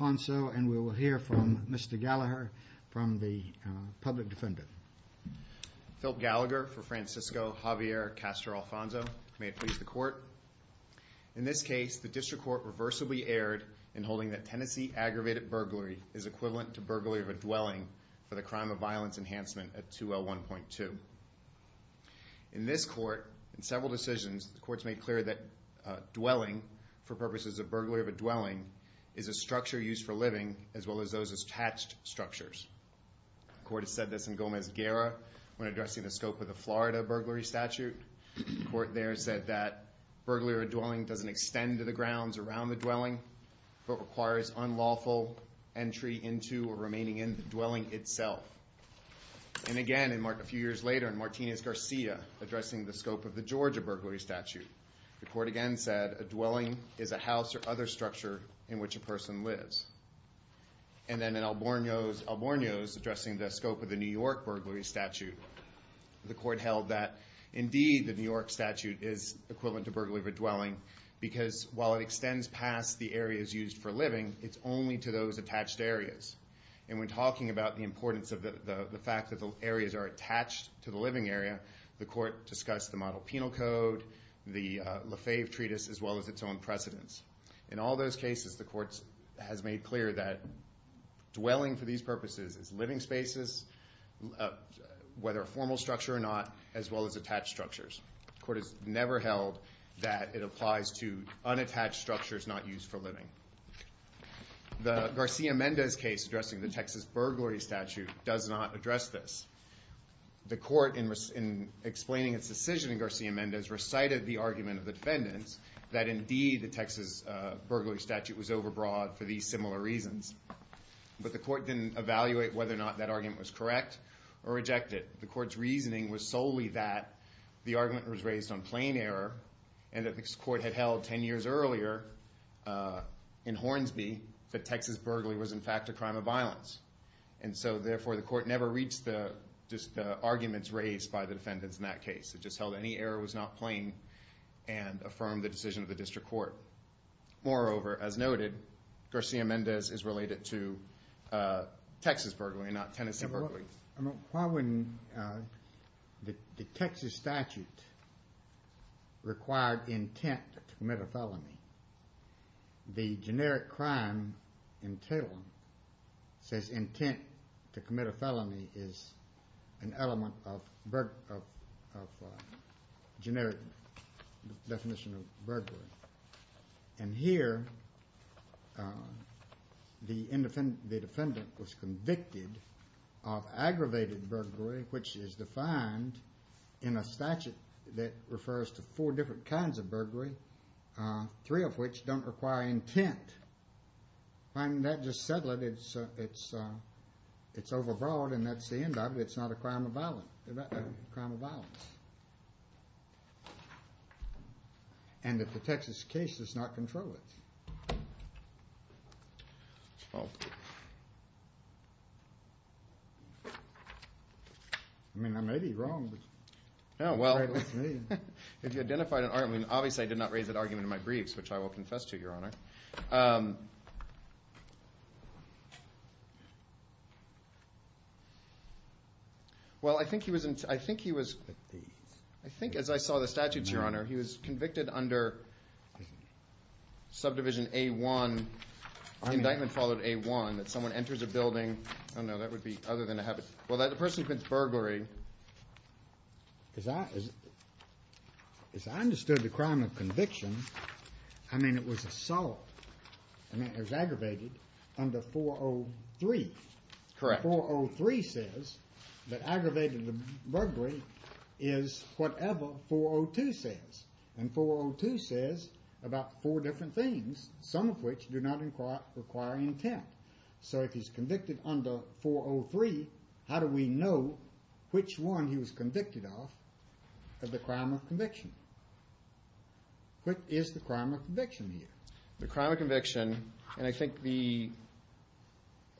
and we will hear from Mr. Gallagher from the public defendant. Philip Gallagher for Francisco Javier Castro-Alfonso. May it please the court. In this case, the district court reversibly erred in holding that Tennessee aggravated burglary is equivalent to burglary of a dwelling for the crime of violence enhancement at 2L1.2. In this court, in several decisions, the court's made clear that burglary of a dwelling is a structure used for living as well as those attached structures. The court has said this in Gomez-Guerra when addressing the scope of the Florida burglary statute. The court there said that burglary of a dwelling doesn't extend to the grounds around the dwelling, but requires unlawful entry into or remaining in the dwelling itself. And again, a few years later, in Martinez-Garcia, addressing the scope of the Georgia burglary statute. The court again said a dwelling is a house or other structure in which a person lives. And then in Albornoz, addressing the scope of the New York burglary statute. The court held that indeed the New York statute is equivalent to burglary of a dwelling, because while it extends past the areas used for living, it's only to those attached areas. And when talking about the importance of the fact that the areas are attached to the living area, the court discussed the Model Penal Code, the Lefebvre Treatise, as well as its own precedents. In all those cases, the court has made clear that dwelling for these purposes is living spaces, whether a formal structure or not, as well as attached structures. The court has never held that it applies to unattached structures not used for living. The Garcia-Mendez case addressing the Texas burglary statute does not address this. The court, in explaining its decision in Garcia-Mendez, recited the argument of the defendants that indeed the Texas burglary statute was overbroad for these similar reasons. But the court didn't evaluate whether or not that argument was correct or rejected. The court's reasoning was solely that the argument was raised on plain error and that the court had held 10 years earlier in Hornsby that Texas burglary was in fact a crime of violence. And so, therefore, the court never reached the arguments raised by the defendants in that case. It just held any error was not plain and affirmed the decision of the district court. Moreover, as noted, Garcia-Mendez is related to Texas burglary, not Tennessee burglary. Why wouldn't the Texas statute require intent to commit a felony? The generic crime entitlement says intent to commit a felony is an element of generic definition of burglary. And here, the defendant was convicted of aggravated burglary, which is defined in a statute that refers to four different kinds of burglary, three of which don't require intent. Why didn't that just settle it? It's overbroad and that's the end of it. It's not a crime of violence. And if the Texas case does not control it. I mean, I may be wrong. Well, if you identified an argument. Obviously, I did not raise that argument in my briefs, which I will confess to, Your Honor. Well, I think he was, I think he was, I think as I saw the statutes, Your Honor, he was convicted under subdivision A-1, indictment followed A-1, that someone enters a building. Oh, no, that would be other than a habit. Well, that person commits burglary. As I understood the crime of conviction, I mean, it was assault. I mean, it was aggravated under 403. Correct. 403 says that aggravated burglary is whatever 402 says. And 402 says about four different things, some of which do not require intent. So if he's convicted under 403, how do we know which one he was convicted off of the crime of conviction? What is the crime of conviction here? The crime of conviction, and I think the.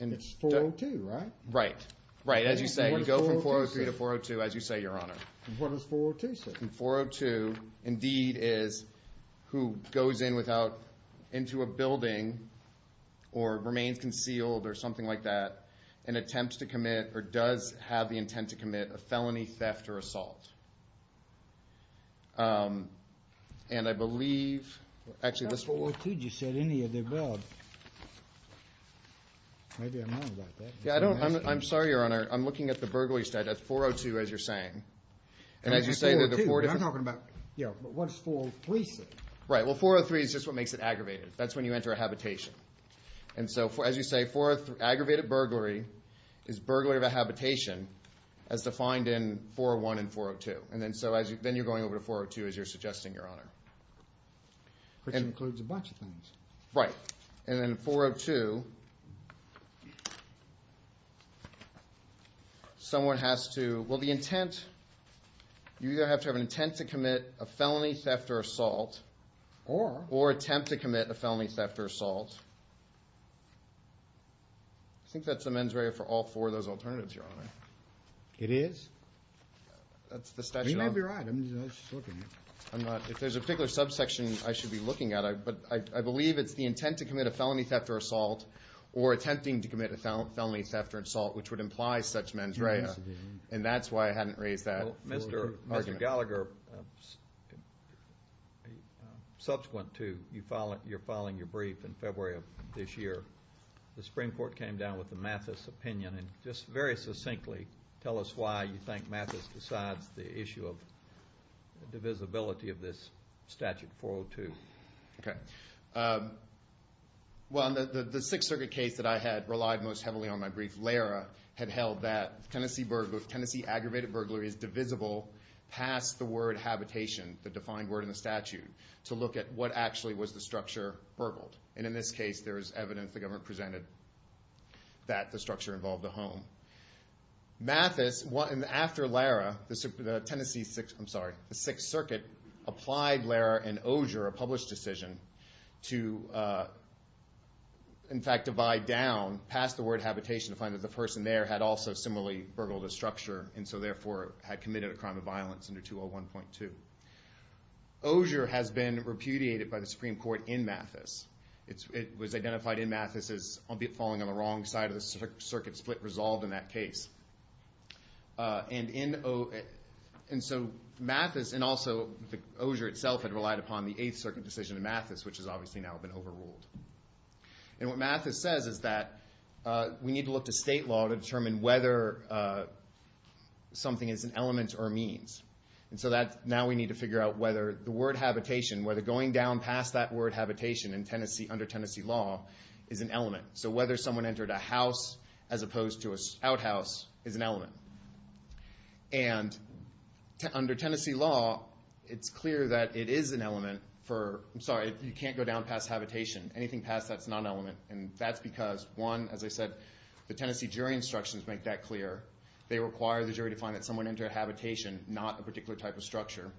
It's 402, right? Right, right. As you say, you go from 403 to 402, as you say, Your Honor. What does 402 say? 402, indeed, is who goes in without, into a building or remains concealed or something like that, and attempts to commit or does have the intent to commit a felony theft or assault. And I believe, actually, this. 402 just said any of the above. Maybe I'm wrong about that. Yeah, I don't. I'm sorry, Your Honor. I'm looking at the burglary side. That's 402, as you're saying. And 402, I'm talking about. Yeah, but what does 403 say? Right, well, 403 is just what makes it aggravated. That's when you enter a habitation. And so, as you say, aggravated burglary is burglary of a habitation as defined in 401 and 402. And then, so, then you're going over to 402, as you're suggesting, Your Honor. Which includes a bunch of things. Right. And then 402, someone has to, well, the intent, you either have to have an intent to commit a felony theft or assault. Or? Or attempt to commit a felony theft or assault. I think that's the mens rea for all four of those alternatives, Your Honor. It is? That's the statute. You may be right. I'm just looking. I'm not. If there's a particular subsection, I should be looking at it. But I believe it's the intent to commit a felony theft or assault, or attempting to commit a felony theft or assault, which would imply such mens rea. And that's why I hadn't raised that argument. Mr. Gallagher, subsequent to your filing your brief in February of this year, the Supreme Court came down with the Mathis opinion. And just very succinctly, tell us why you think Mathis decides the issue of divisibility of this statute 402. Okay. Well, the Sixth Circuit case that I had relied most heavily on my brief, Lara had held that Tennessee aggravated burglary is divisible past the word habitation, the defined word in the statute, to look at what actually was the structure burgled. And in this case, there is evidence the government presented that the structure involved a home. Mathis, after Lara, the Tennessee Sixth, I'm sorry, the Sixth Circuit, applied Lara and Ogier, a published decision, to in fact divide down past the word habitation to find that the person there had also similarly burgled a structure and so therefore had committed a crime of violence under 201.2. Ogier has been repudiated by the Supreme Court in Mathis. It was identified in Mathis as falling on the wrong side of the circuit split resolved in that case. And so Mathis and also Ogier itself had relied upon the Eighth Circuit decision in Mathis, which has obviously now been overruled. And what Mathis says is that we need to look to state law to determine whether something is an element or a means. And so now we need to figure out whether the word habitation, whether going down past that word habitation under Tennessee law is an element. So whether someone entered a house as opposed to an outhouse is an element. And under Tennessee law, it's clear that it is an element for, I'm sorry, you can't go down past habitation. Anything past that's not an element. And that's because, one, as I said, the Tennessee jury instructions make that clear. They require the jury to find that someone entered a habitation, not a particular type of structure.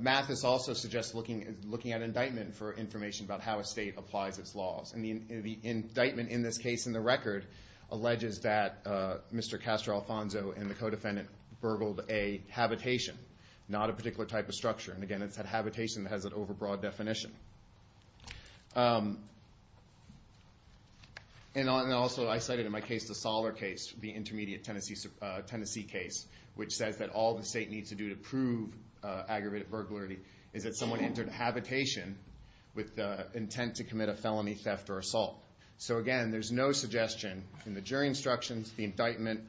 Mathis also suggests looking at indictment for information about how a state applies its laws. And the indictment in this case in the record alleges that Mr. Castro-Alfonso and the co-defendant burgled a habitation, not a particular type of structure. And, again, it's that habitation that has an overbroad definition. And also I cited in my case the Soller case, the intermediate Tennessee case, which says that all the state needs to do to prove aggravated burglary is that someone entered a habitation with the intent to commit a felony theft or assault. So, again, there's no suggestion in the jury instructions, the indictment,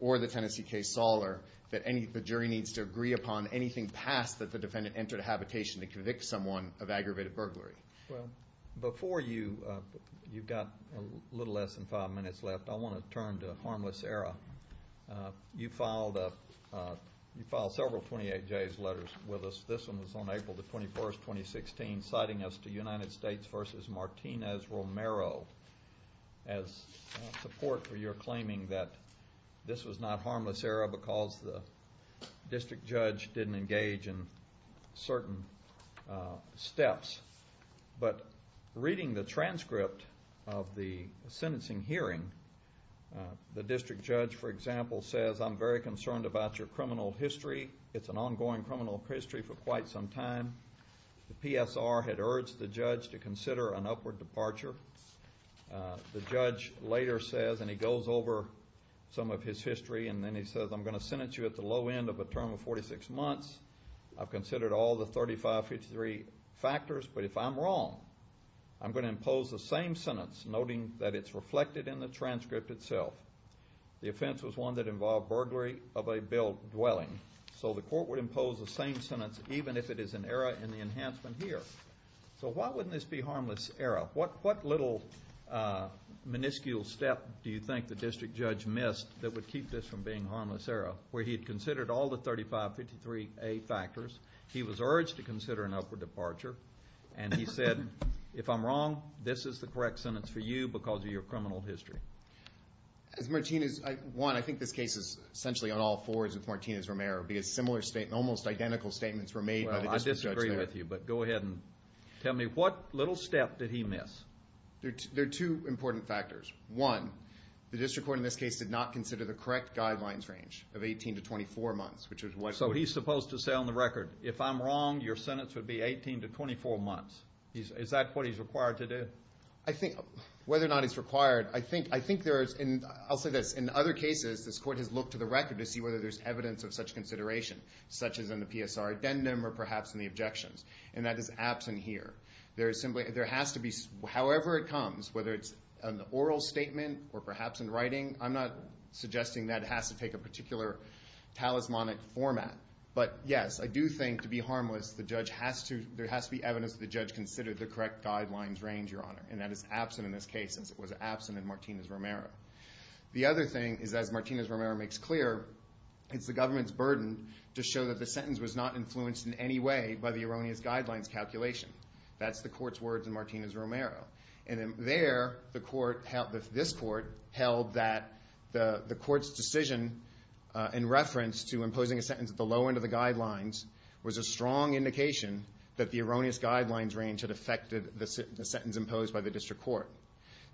or the Tennessee case Soller, that the jury needs to agree upon anything past that the defendant entered a habitation to convict someone of aggravated burglary. Before you've got a little less than five minutes left, I want to turn to Harmless Era. You filed several 28Js letters with us. This one was on April 21, 2016, citing us to United States v. Martinez-Romero as support for your claiming that this was not Harmless Era because the district judge didn't engage in certain steps. But reading the transcript of the sentencing hearing, the district judge, for example, says, I'm very concerned about your criminal history. It's an ongoing criminal history for quite some time. The PSR had urged the judge to consider an upward departure. The judge later says, and he goes over some of his history, and then he says, I'm going to sentence you at the low end of a term of 46 months. I've considered all the 3553 factors, but if I'm wrong, I'm going to impose the same sentence, noting that it's reflected in the transcript itself. The offense was one that involved burglary of a built dwelling. So the court would impose the same sentence, even if it is an error in the enhancement here. So why wouldn't this be Harmless Era? What little minuscule step do you think the district judge missed that would keep this from being Harmless Era, where he had considered all the 3553A factors, he was urged to consider an upward departure, and he said, if I'm wrong, this is the correct sentence for you because of your criminal history. As Martinez, one, I think this case is essentially on all fours with Martinez-Romero, because similar statements, almost identical statements were made by the district judge there. Well, I disagree with you, but go ahead and tell me, what little step did he miss? There are two important factors. One, the district court in this case did not consider the correct guidelines range of 18 to 24 months, which is what. So he's supposed to say on the record, if I'm wrong, your sentence would be 18 to 24 months. Is that what he's required to do? I think whether or not he's required, I think there is, and I'll say this, in other cases this court has looked to the record to see whether there's evidence of such consideration, such as in the PSR addendum or perhaps in the objections, and that is absent here. There has to be, however it comes, whether it's an oral statement or perhaps in writing, I'm not suggesting that it has to take a particular talismanic format, but yes, I do think to be harmless, there has to be evidence that the judge considered the correct guidelines range, Your Honor, and that is absent in this case, as it was absent in Martinez-Romero. The other thing is, as Martinez-Romero makes clear, it's the government's burden to show that the sentence was not influenced in any way by the erroneous guidelines calculation. That's the court's words in Martinez-Romero. And there, this court held that the court's decision in reference to imposing a sentence at the low end of the guidelines was a strong indication that the erroneous guidelines range had affected the sentence imposed by the district court.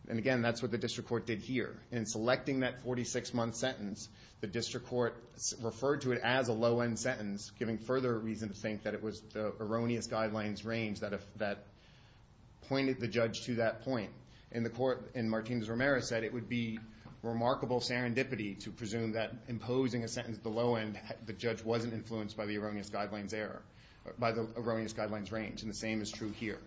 And again, that's what the district court did here. In selecting that 46-month sentence, the district court referred to it as a low-end sentence, giving further reason to think that it was the erroneous guidelines range that pointed the judge to that point. And the court in Martinez-Romero said it would be remarkable serendipity to presume that imposing a sentence at the low end, the judge wasn't influenced by the erroneous guidelines range. And the same is true here,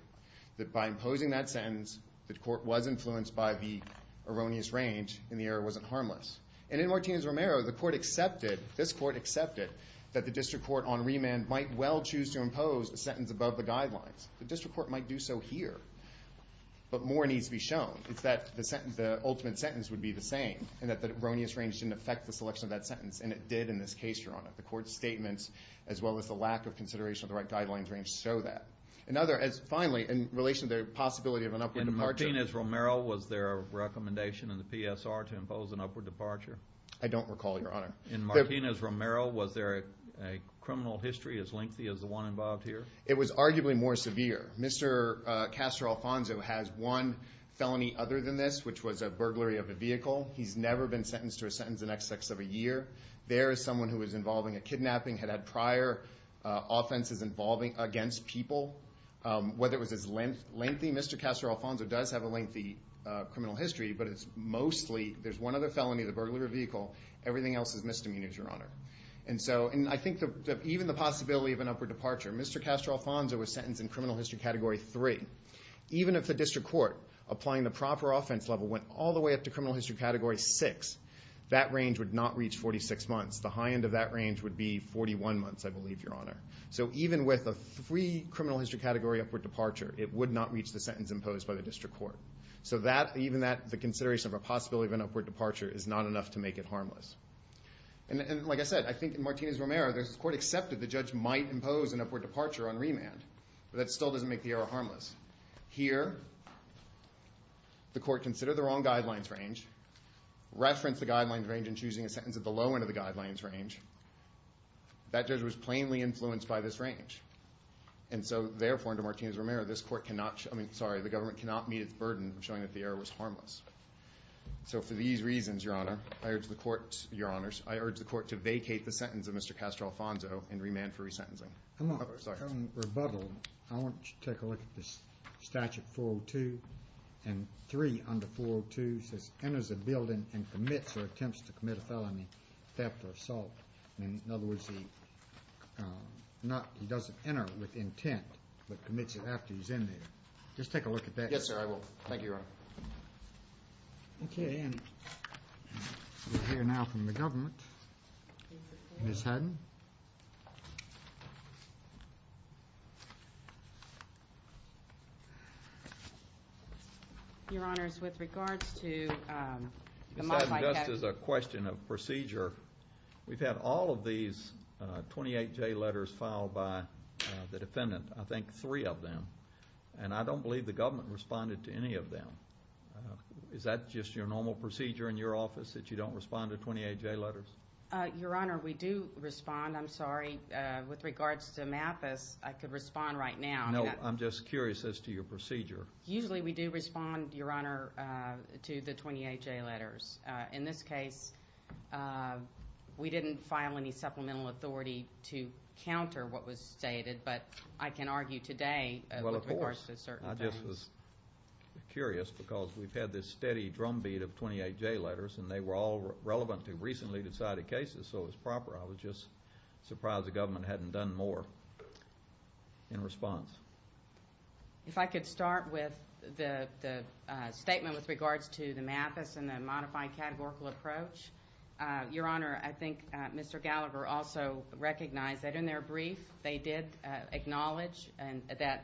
that by imposing that sentence, the court was influenced by the erroneous range and the error wasn't harmless. And in Martinez-Romero, the court accepted, this court accepted, that the district court on remand might well choose to impose a sentence above the guidelines. The district court might do so here. But more needs to be shown. It's that the ultimate sentence would be the same and that the erroneous range didn't affect the selection of that sentence. And it did in this case, Your Honor. The court's statements, as well as the lack of consideration of the right guidelines range, show that. Finally, in relation to the possibility of an upward departure. In Martinez-Romero, was there a recommendation in the PSR to impose an upward departure? I don't recall, Your Honor. In Martinez-Romero, was there a criminal history as lengthy as the one involved here? It was arguably more severe. Mr. Castro-Alfonso has one felony other than this, which was a burglary of a vehicle. He's never been sentenced to a sentence the next six of a year. There is someone who was involving a kidnapping, had had prior offenses involving against people. Whether it was as lengthy, Mr. Castro-Alfonso does have a lengthy criminal history. But it's mostly, there's one other felony, the burglary of a vehicle. Everything else is misdemeanors, Your Honor. And so, and I think that even the possibility of an upward departure. Mr. Castro-Alfonso was sentenced in criminal history category three. Even if the district court, applying the proper offense level, went all the way up to criminal history category six, that range would not reach 46 months. The high end of that range would be 41 months, I believe, Your Honor. So even with a three criminal history category upward departure, it would not reach the sentence imposed by the district court. So that, even that, the consideration of a possibility of an upward departure is not enough to make it harmless. And like I said, I think in Martinez-Romero, the court accepted the judge might impose an upward departure on remand. But that still doesn't make the error harmless. Here, the court considered the wrong guidelines range, referenced the guidelines range in choosing a sentence at the low end of the guidelines range. That judge was plainly influenced by this range. And so, therefore, under Martinez-Romero, this court cannot, I mean, sorry, the government cannot meet its burden of showing that the error was harmless. So for these reasons, Your Honor, I urge the court, Your Honors, I urge the court to vacate the sentence of Mr. Castro-Alfonso and remand for resentencing. I'm not going to rebuttal. I want you to take a look at this statute 402 and three under 402, which says, enters a building and commits or attempts to commit a felony, theft or assault. In other words, he doesn't enter with intent, but commits it after he's in there. Just take a look at that. Yes, sir, I will. Thank you, Your Honor. Okay. We'll hear now from the government. Ms. Haddon. Ms. Haddon. Your Honors, with regards to the model I have. Ms. Haddon, just as a question of procedure, we've had all of these 28-J letters filed by the defendant, I think three of them, and I don't believe the government responded to any of them. Is that just your normal procedure in your office that you don't respond to 28-J letters? Your Honor, we do respond. I'm sorry. With regards to MAPIS, I could respond right now. No, I'm just curious as to your procedure. Usually we do respond, Your Honor, to the 28-J letters. In this case, we didn't file any supplemental authority to counter what was stated, but I can argue today with regards to certain things. Well, of course. I just was curious because we've had this steady drumbeat of 28-J letters, and they were all relevant to recently decided cases, so it was proper. I was just surprised the government hadn't done more in response. If I could start with the statement with regards to the MAPIS and the modified categorical approach. Your Honor, I think Mr. Gallagher also recognized that in their brief they did acknowledge that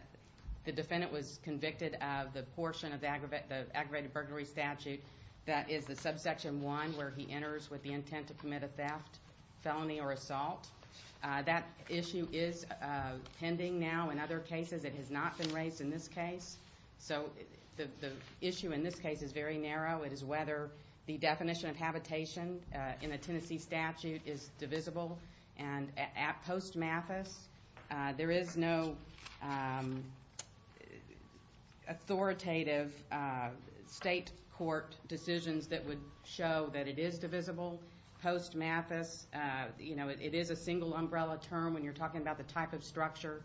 the defendant was convicted of the portion of the aggravated burglary statute that is the subsection 1 where he enters with the intent to commit a theft, felony, or assault. That issue is pending now. In other cases, it has not been raised in this case. So the issue in this case is very narrow. It is whether the definition of habitation in the Tennessee statute is divisible. At post MAPIS, there is no authoritative state court decisions that would show that it is divisible. Post MAPIS, it is a single umbrella term when you're talking about the type of structure.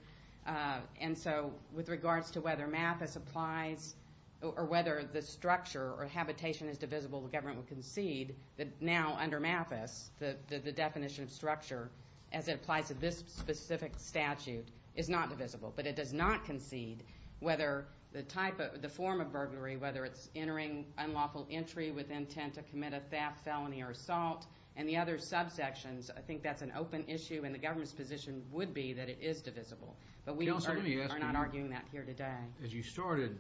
And so with regards to whether MAPIS applies or whether the structure or habitation is divisible, the government would concede that now under MAPIS, the definition of structure as it applies to this specific statute is not divisible. But it does not concede whether the form of burglary, whether it's entering unlawful entry with intent to commit a theft, felony, or assault, and the other subsections, I think that's an open issue, and the government's position would be that it is divisible. But we are not arguing that here today. As you started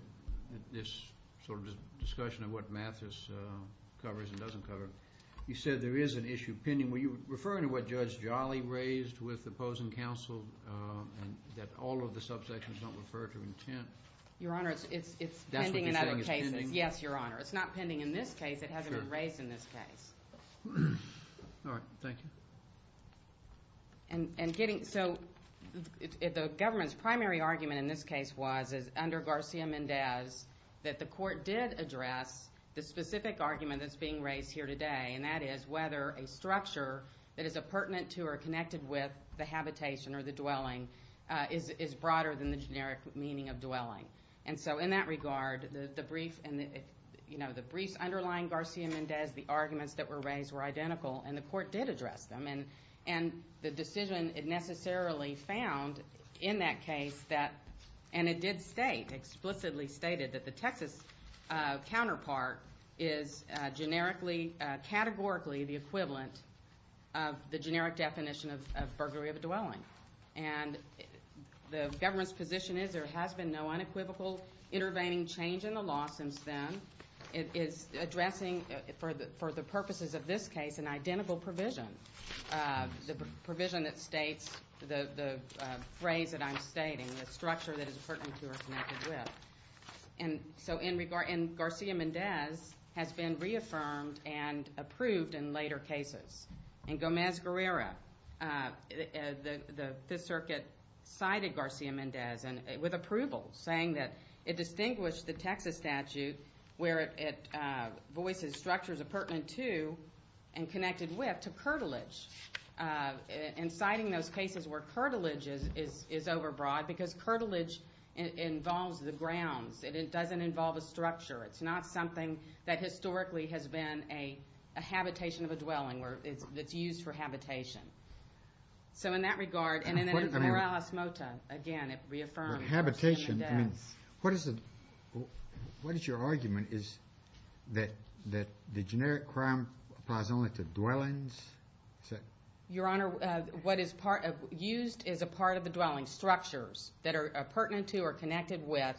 this sort of discussion of what MAPIS covers and doesn't cover, you said there is an issue pending. Were you referring to what Judge Jolly raised with opposing counsel that all of the subsections don't refer to intent? Your Honor, it's pending in other cases. That's what you're saying is pending? Yes, Your Honor. It's not pending in this case. It hasn't been raised in this case. All right. Thank you. So the government's primary argument in this case was, under Garcia-Mendez, that the court did address the specific argument that's being raised here today, and that is whether a structure that is pertinent to or connected with the habitation or the dwelling is broader than the generic meaning of dwelling. And so in that regard, the briefs underlying Garcia-Mendez, the arguments that were raised were identical, and the court did address them. And the decision necessarily found in that case that, and it did state, explicitly stated, that the Texas counterpart is categorically the equivalent of the generic definition of burglary of a dwelling. And the government's position is there has been no unequivocal intervening change in the law since then. It is addressing, for the purposes of this case, an identical provision, the provision that states the phrase that I'm stating, the structure that is pertinent to or connected with. And so Garcia-Mendez has been reaffirmed and approved in later cases. In Gomez-Guerrero, the Fifth Circuit cited Garcia-Mendez with approval, saying that it distinguished the Texas statute, where it voices structures pertinent to and connected with, to curtilage. And citing those cases where curtilage is overbroad, because curtilage involves the grounds. It doesn't involve a structure. It's not something that historically has been a habitation of a dwelling that's used for habitation. So in that regard, and then in Peral Esmota, again, it reaffirmed. For habitation, I mean, what is your argument? Is that the generic crime applies only to dwellings? Your Honor, what is used is a part of the dwelling structures that are pertinent to or connected with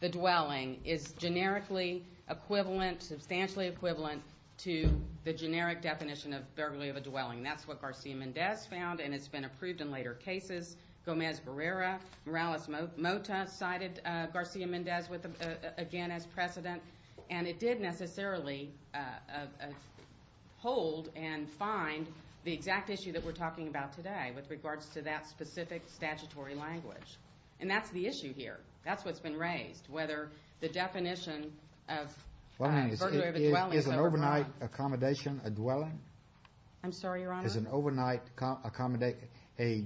the dwelling is generically equivalent, substantially equivalent, to the generic definition of burglary of a dwelling. That's what Garcia-Mendez found, and it's been approved in later cases. Gomez-Barrera, Morales-Mota cited Garcia-Mendez again as precedent, and it did necessarily hold and find the exact issue that we're talking about today with regards to that specific statutory language. And that's the issue here. That's what's been raised, whether the definition of burglary of a dwelling. I'm sorry, Your Honor? If there is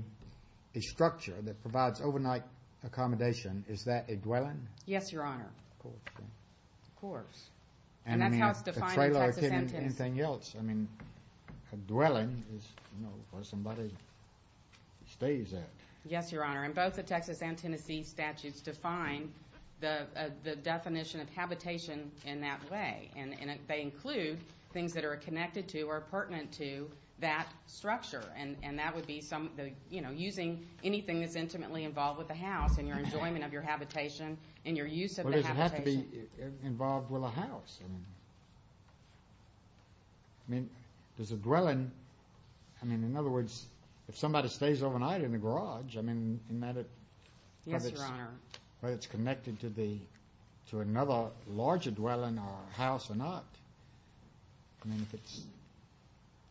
a structure that provides overnight accommodation, is that a dwelling? Yes, Your Honor. Of course. Of course. And that's how it's defined in Texas and Tennessee. I mean, a trailer or anything else. I mean, a dwelling is, you know, where somebody stays at. Yes, Your Honor, and both the Texas and Tennessee statutes define the definition of habitation in that way, and they include things that are connected to or pertinent to that structure, and that would be some, you know, using anything that's intimately involved with the house and your enjoyment of your habitation and your use of the habitation. Well, does it have to be involved with a house? I mean, does a dwelling, I mean, in other words, if somebody stays overnight in a garage, I mean, isn't that it? Yes, Your Honor. Whether it's connected to another larger dwelling or a house or not.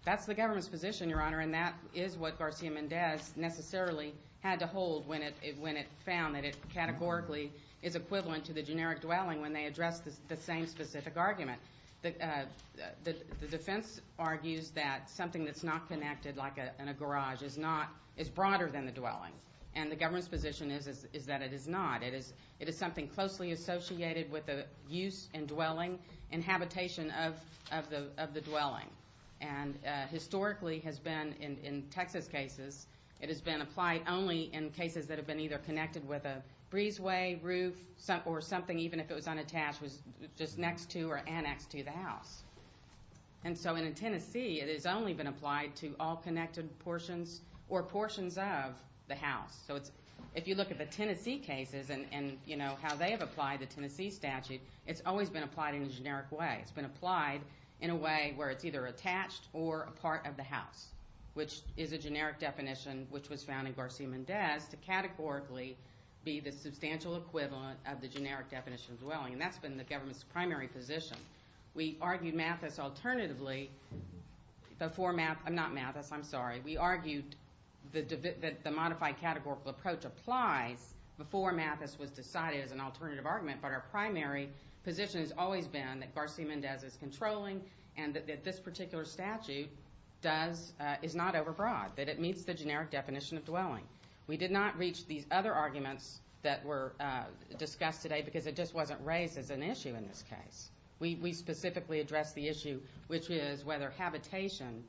That's the government's position, Your Honor, and that is what Garcia-Mendez necessarily had to hold when it found that it categorically is equivalent to the generic dwelling when they addressed the same specific argument. The defense argues that something that's not connected like in a garage is broader than the dwelling, and the government's position is that it is not. It is something closely associated with the use and dwelling, and habitation of the dwelling. And historically has been in Texas cases, it has been applied only in cases that have been either connected with a breezeway, roof, or something, even if it was unattached, was just next to or annexed to the house. And so in Tennessee, it has only been applied to all connected portions or portions of the house. So if you look at the Tennessee cases and how they have applied the Tennessee statute, it's always been applied in a generic way. It's been applied in a way where it's either attached or a part of the house, which is a generic definition which was found in Garcia-Mendez to categorically be the substantial equivalent of the generic definition dwelling, and that's been the government's primary position. We argued Mathis alternatively before Mathis. I'm not Mathis, I'm sorry. We argued that the modified categorical approach applies before Mathis was decided as an alternative argument, but our primary position has always been that Garcia-Mendez is controlling and that this particular statute is not overbroad, that it meets the generic definition of dwelling. We did not reach these other arguments that were discussed today because it just wasn't raised as an issue in this case. We specifically addressed the issue, which is whether habitation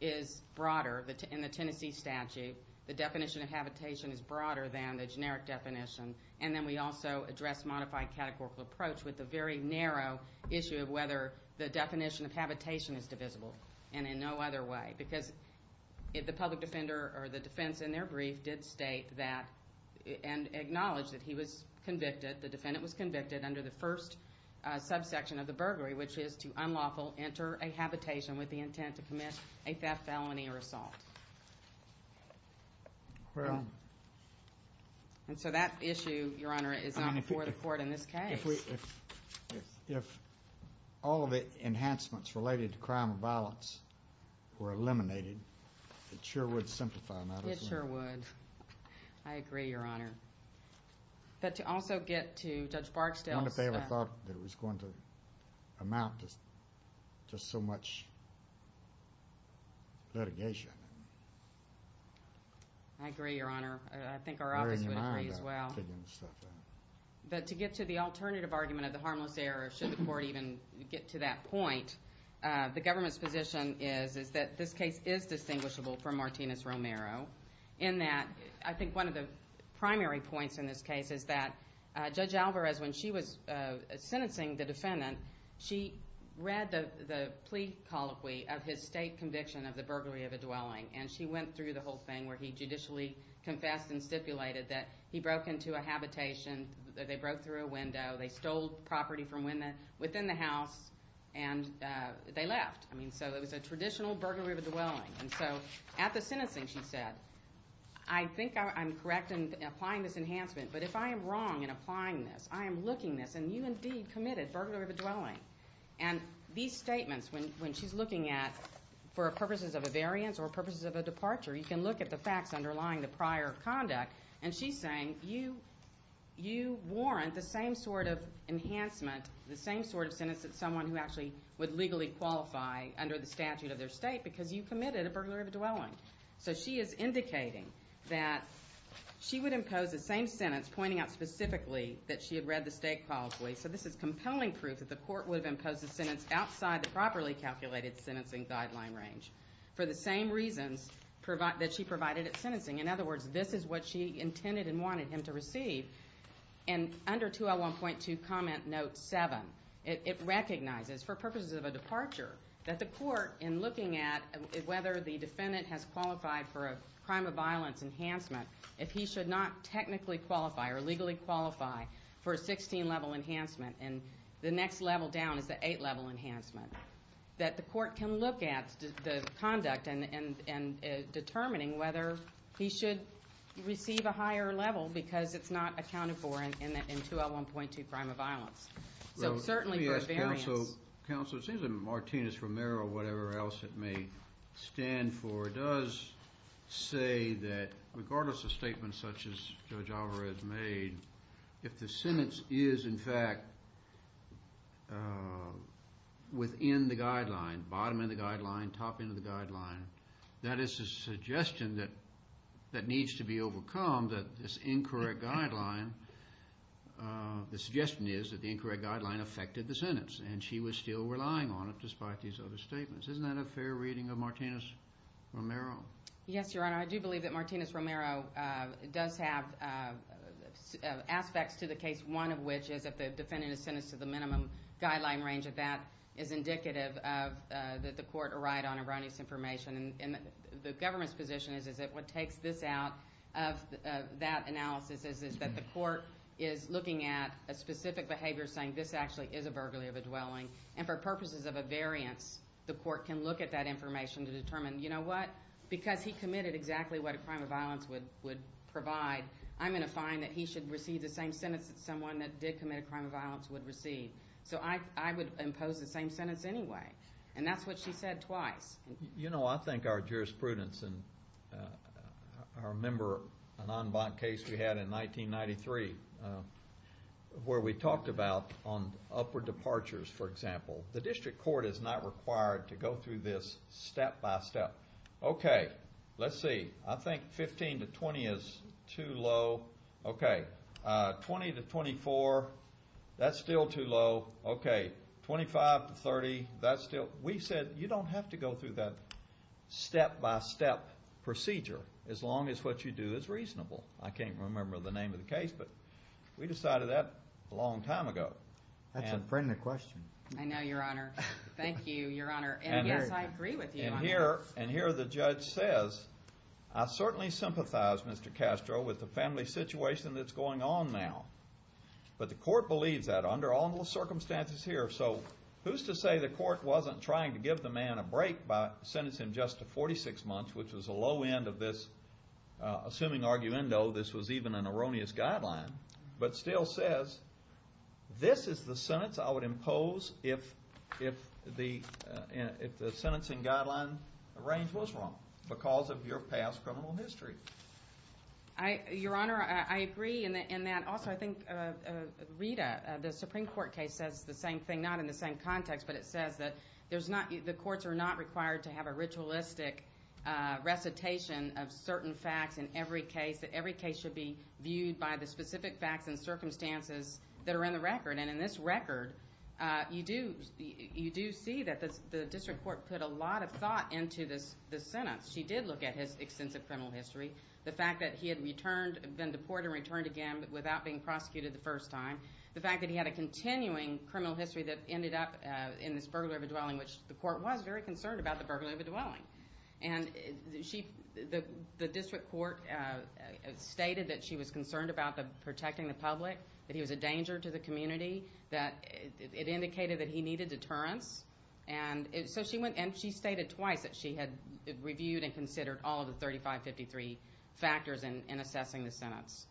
is broader in the Tennessee statute, the definition of habitation is broader than the generic definition, and then we also addressed modified categorical approach with the very narrow issue of whether the definition of habitation is divisible and in no other way because the public defender or the defense in their brief did state that and acknowledge that he was convicted, the defendant was convicted under the first subsection of the burglary, which is to unlawful enter a habitation with the intent to commit a theft, felony, or assault. And so that issue, Your Honor, is not before the court in this case. If all of the enhancements related to crime and violence were eliminated, it sure would simplify matters. It sure would. I agree, Your Honor. But to also get to Judge Barksdale's... just so much litigation. I agree, Your Honor. I think our office would agree as well. But to get to the alternative argument of the harmless error, should the court even get to that point, the government's position is that this case is distinguishable from Martinez-Romero in that I think one of the primary points in this case is that Judge Alvarez, when she was sentencing the defendant, she read the plea colloquy of his state conviction of the burglary of a dwelling. And she went through the whole thing where he judicially confessed and stipulated that he broke into a habitation, that they broke through a window, they stole property from within the house, and they left. I mean, so it was a traditional burglary of a dwelling. And so at the sentencing she said, I think I'm correct in applying this enhancement, but if I am wrong in applying this, I am looking this, and you indeed committed burglary of a dwelling. And these statements, when she's looking at, for purposes of a variance or purposes of a departure, you can look at the facts underlying the prior conduct, and she's saying you warrant the same sort of enhancement, the same sort of sentence that someone who actually would legally qualify So she is indicating that she would impose the same sentence, pointing out specifically that she had read the state colloquy. So this is compelling proof that the court would have imposed a sentence outside the properly calculated sentencing guideline range for the same reasons that she provided at sentencing. In other words, this is what she intended and wanted him to receive. And under 201.2 comment note 7, it recognizes, for purposes of a departure, that the court, in looking at whether the defendant has qualified for a crime of violence enhancement, if he should not technically qualify or legally qualify for a 16-level enhancement and the next level down is the 8-level enhancement, that the court can look at the conduct in determining whether he should receive a higher level because it's not accounted for in 201.2 crime of violence. So certainly for a variance. Well, counsel, it seems that Martinez-Romero, whatever else it may stand for, does say that, regardless of statements such as Judge Alvarez made, if the sentence is, in fact, within the guideline, bottom end of the guideline, top end of the guideline, that is a suggestion that needs to be overcome, that this incorrect guideline, the suggestion is that the incorrect guideline affected the sentence and she was still relying on it despite these other statements. Isn't that a fair reading of Martinez-Romero? Yes, Your Honor. I do believe that Martinez-Romero does have aspects to the case, one of which is that the defendant is sentenced to the minimum guideline range, and that is indicative that the court arrived on erroneous information. And the government's position is that what takes this out of that analysis is that the court is looking at a specific behavior, saying this actually is a burglary of a dwelling, and for purposes of a variance, the court can look at that information to determine, you know what, because he committed exactly what a crime of violence would provide, I'm going to find that he should receive the same sentence that someone that did commit a crime of violence would receive. So I would impose the same sentence anyway. And that's what she said twice. You know, I think our jurisprudence, and I remember an en banc case we had in 1993 where we talked about on upward departures, for example, the district court is not required to go through this step by step. Okay, let's see. I think 15 to 20 is too low. Okay, 20 to 24, that's still too low. Okay, 25 to 30, that's still. But we said you don't have to go through that step by step procedure as long as what you do is reasonable. I can't remember the name of the case, but we decided that a long time ago. That's a friendly question. I know, Your Honor. Thank you, Your Honor. And yes, I agree with you. And here the judge says, I certainly sympathize, Mr. Castro, with the family situation that's going on now, but the court believes that under all the circumstances here. So who's to say the court wasn't trying to give the man a break by sentencing him just to 46 months, which was a low end of this assuming argument, though this was even an erroneous guideline, but still says this is the sentence I would impose if the sentencing guideline range was wrong because of your past criminal history. Your Honor, I agree in that. And also I think Rita, the Supreme Court case, says the same thing, not in the same context, but it says that the courts are not required to have a ritualistic recitation of certain facts in every case, that every case should be viewed by the specific facts and circumstances that are in the record. And in this record you do see that the district court put a lot of thought into this sentence. She did look at his extensive criminal history, the fact that he had been deported and returned again without being prosecuted the first time, the fact that he had a continuing criminal history that ended up in this burglary of a dwelling, which the court was very concerned about the burglary of a dwelling. And the district court stated that she was concerned about protecting the public, that he was a danger to the community, that it indicated that he needed deterrence. And she stated twice that she had reviewed and considered all of the 3553 factors in assessing the sentence.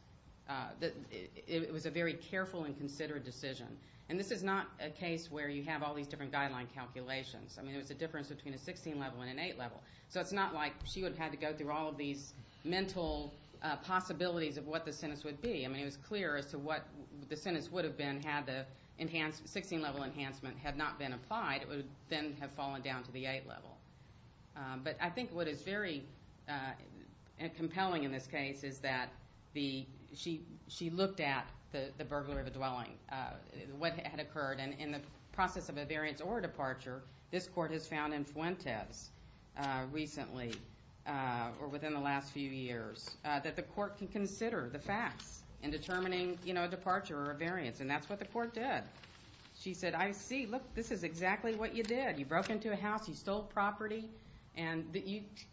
It was a very careful and considered decision. And this is not a case where you have all these different guideline calculations. I mean, it was a difference between a 16-level and an 8-level. So it's not like she would have had to go through all of these mental possibilities of what the sentence would be. I mean, it was clear as to what the sentence would have been had the 16-level enhancement had not been applied. It would then have fallen down to the 8-level. But I think what is very compelling in this case is that she looked at the burglary of a dwelling, what had occurred. And in the process of a variance or a departure, this court has found in Fuentes recently or within the last few years that the court can consider the facts in determining a departure or a variance. And that's what the court did. She said, I see. Look, this is exactly what you did. You broke into a house, you stole property, and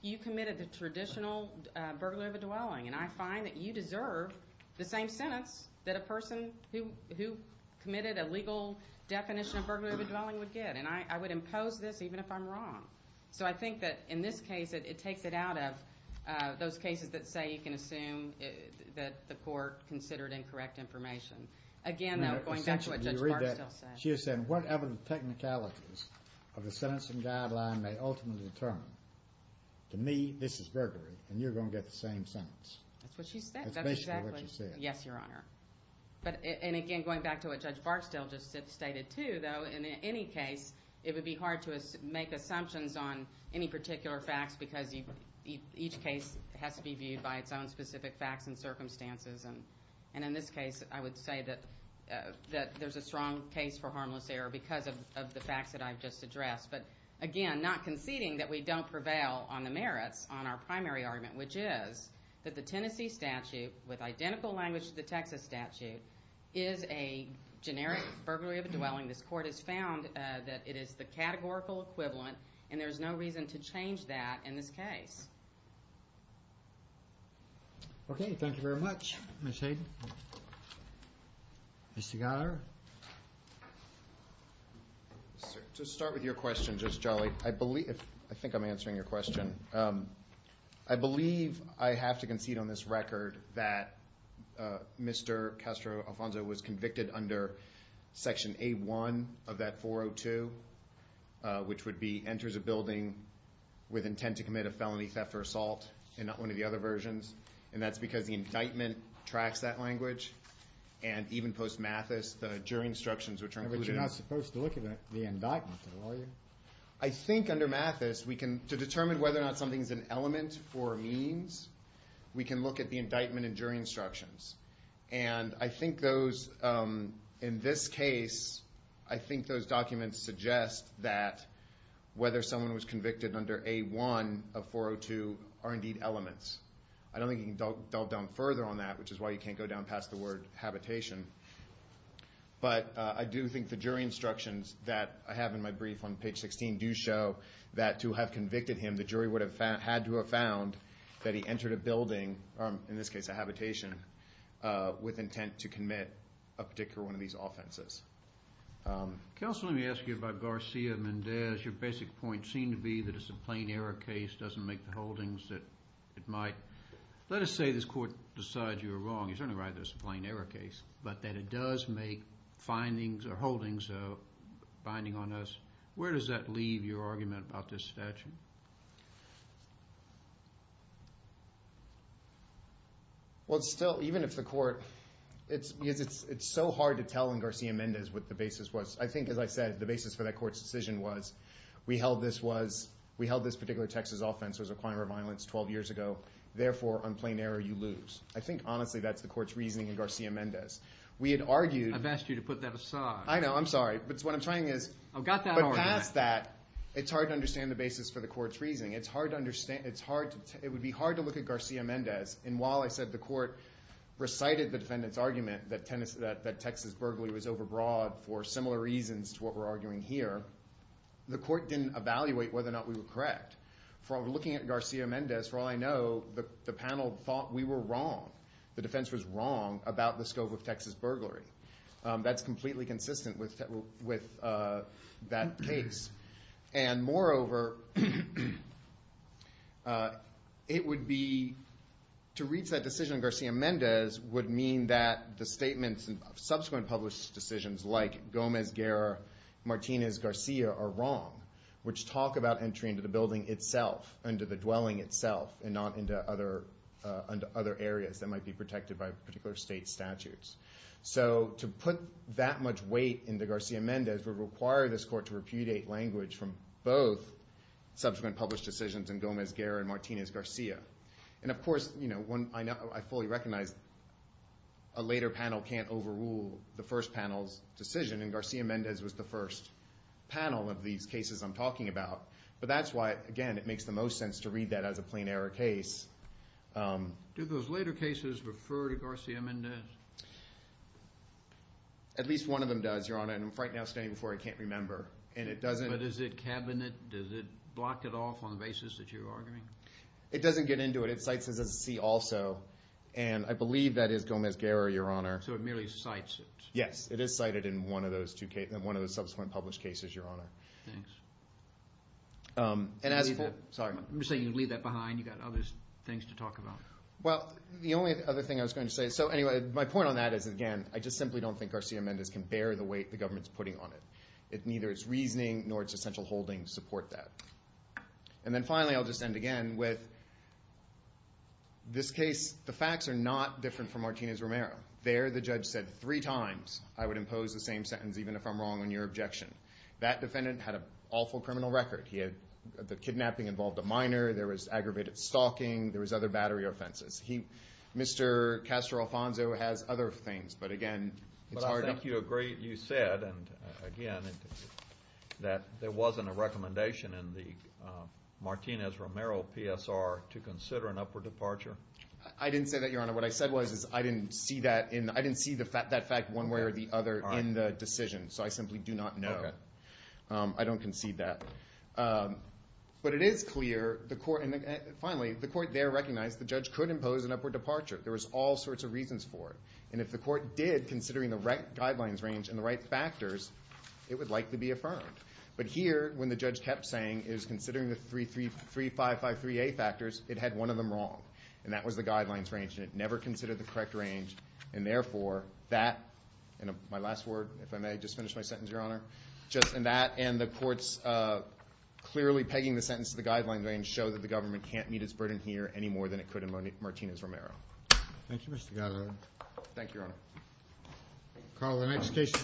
you committed the traditional burglary of a dwelling. And I find that you deserve the same sentence that a person who committed a legal definition of burglary of a dwelling would get. And I would impose this even if I'm wrong. So I think that in this case it takes it out of those cases that say you can assume that the court considered incorrect information. Again, though, going back to what Judge Barksdale said. She is saying whatever the technicalities of the sentencing guideline may ultimately determine, to me, this is burglary, and you're going to get the same sentence. That's what she said. That's basically what she said. Yes, Your Honor. And again, going back to what Judge Barksdale just stated too, though, in any case it would be hard to make assumptions on any particular facts because each case has to be viewed by its own specific facts and circumstances. And in this case I would say that there's a strong case for harmless error because of the facts that I've just addressed. But again, not conceding that we don't prevail on the merits on our primary argument, which is that the Tennessee statute, with identical language to the Texas statute, is a generic burglary of a dwelling. This court has found that it is the categorical equivalent, and there's no reason to change that in this case. Okay, thank you very much, Ms. Hayden. Mr. Gallagher? To start with your question, Justice Jolly, I think I'm answering your question. I believe I have to concede on this record that Mr. Castro Alfonso was convicted under Section A1 of that 402, which would be enters a building with intent to commit a felony, theft, or assault, and not one of the other versions. And that's because the indictment tracks that language, and even post-mathis the jury instructions which are included in it. You're not supposed to look at the indictment, are you? I think under mathis we can, to determine whether or not something is an element for means, we can look at the indictment and jury instructions. And I think those, in this case, I think those documents suggest that whether someone was convicted under A1 of 402 are indeed elements. I don't think you can delve down further on that, which is why you can't go down past the word habitation. But I do think the jury instructions that I have in my brief on page 16 do show that to have convicted him, the jury would have had to have found that he entered a building, in this case a habitation, with intent to commit a particular one of these offenses. Counsel, let me ask you about Garcia Mendez. Your basic point seemed to be that it's a plain error case, doesn't make the holdings that it might. Let us say this court decides you were wrong. You're certainly right that it's a plain error case, but that it does make findings or holdings binding on us. Where does that leave your argument about this statute? Well, it's still, even if the court, it's so hard to tell in Garcia Mendez what the basis was. I think, as I said, the basis for that court's decision was, we held this particular Texas offense was a crime or violence 12 years ago. Therefore, on plain error you lose. I think, honestly, that's the court's reasoning in Garcia Mendez. We had argued... I've asked you to put that aside. I know, I'm sorry. But what I'm trying is... I've got that already. But past that, it's hard to understand the basis for the court's reasoning. It's hard to understand. It would be hard to look at Garcia Mendez. And while I said the court recited the defendant's argument that Texas burglary was overbroad for similar reasons to what we're arguing here, the court didn't evaluate whether or not we were correct. From looking at Garcia Mendez, for all I know, the panel thought we were wrong. The defense was wrong about the scope of Texas burglary. That's completely consistent with that case. And, moreover, it would be... To reach that decision on Garcia Mendez would mean that the statements of subsequent published decisions like Gomez-Guerra, Martinez-Garcia are wrong, which talk about entry into the building itself, into the dwelling itself, and not into other areas that might be protected by particular state statutes. So to put that much weight into Garcia Mendez would require this court to repudiate language from both subsequent published decisions in Gomez-Guerra and Martinez-Garcia. And, of course, I fully recognize a later panel can't overrule the first panel's decision, and Garcia Mendez was the first panel of these cases I'm talking about. But that's why, again, it makes the most sense to read that as a plain error case. Do those later cases refer to Garcia Mendez? At least one of them does, Your Honor, and right now, standing before you, I can't remember. And it doesn't... But is it cabinet? Does it block it off on the basis that you're arguing? It doesn't get into it. It cites it as a C also, and I believe that is Gomez-Guerra, Your Honor. So it merely cites it? Yes, it is cited in one of those subsequent published cases, Your Honor. Thanks. And as a... I'm just saying you leave that behind. You've got other things to talk about. Well, the only other thing I was going to say... So, anyway, my point on that is, again, I just simply don't think Garcia Mendez can bear the weight the government's putting on it. Neither its reasoning nor its essential holdings support that. And then, finally, I'll just end again with this case. The facts are not different from Martinez-Romero. There, the judge said three times I would impose the same sentence even if I'm wrong on your objection. That defendant had an awful criminal record. He had... The kidnapping involved a minor. There was aggravated stalking. There was other battery offenses. He... Mr. Castro-Alfonso has other things. But, again, it's hard to... But I think you agreed... You said, and, again, that there wasn't a recommendation in the Martinez-Romero PSR to consider an upward departure. I didn't say that, Your Honor. What I said was is I didn't see that in... I didn't see that fact one way or the other in the decision. So I simply do not know. Okay. I don't concede that. But it is clear the court... And, finally, the court there recognized the judge could impose an upward departure. There was all sorts of reasons for it. And if the court did, considering the right guidelines range and the right factors, it would likely be affirmed. But here, when the judge kept saying, it was considering the 3553A factors, it had one of them wrong. And that was the guidelines range. And it never considered the correct range. And, therefore, that... And my last word, if I may. Just finish my sentence, Your Honor. Just in that, and the court's clearly pegging the sentence to the guidelines range to show that the government can't meet its burden here any more than it could in Martinez-Romero. Thank you, Mr. Goddard. Thank you, Your Honor. Carl, the next case...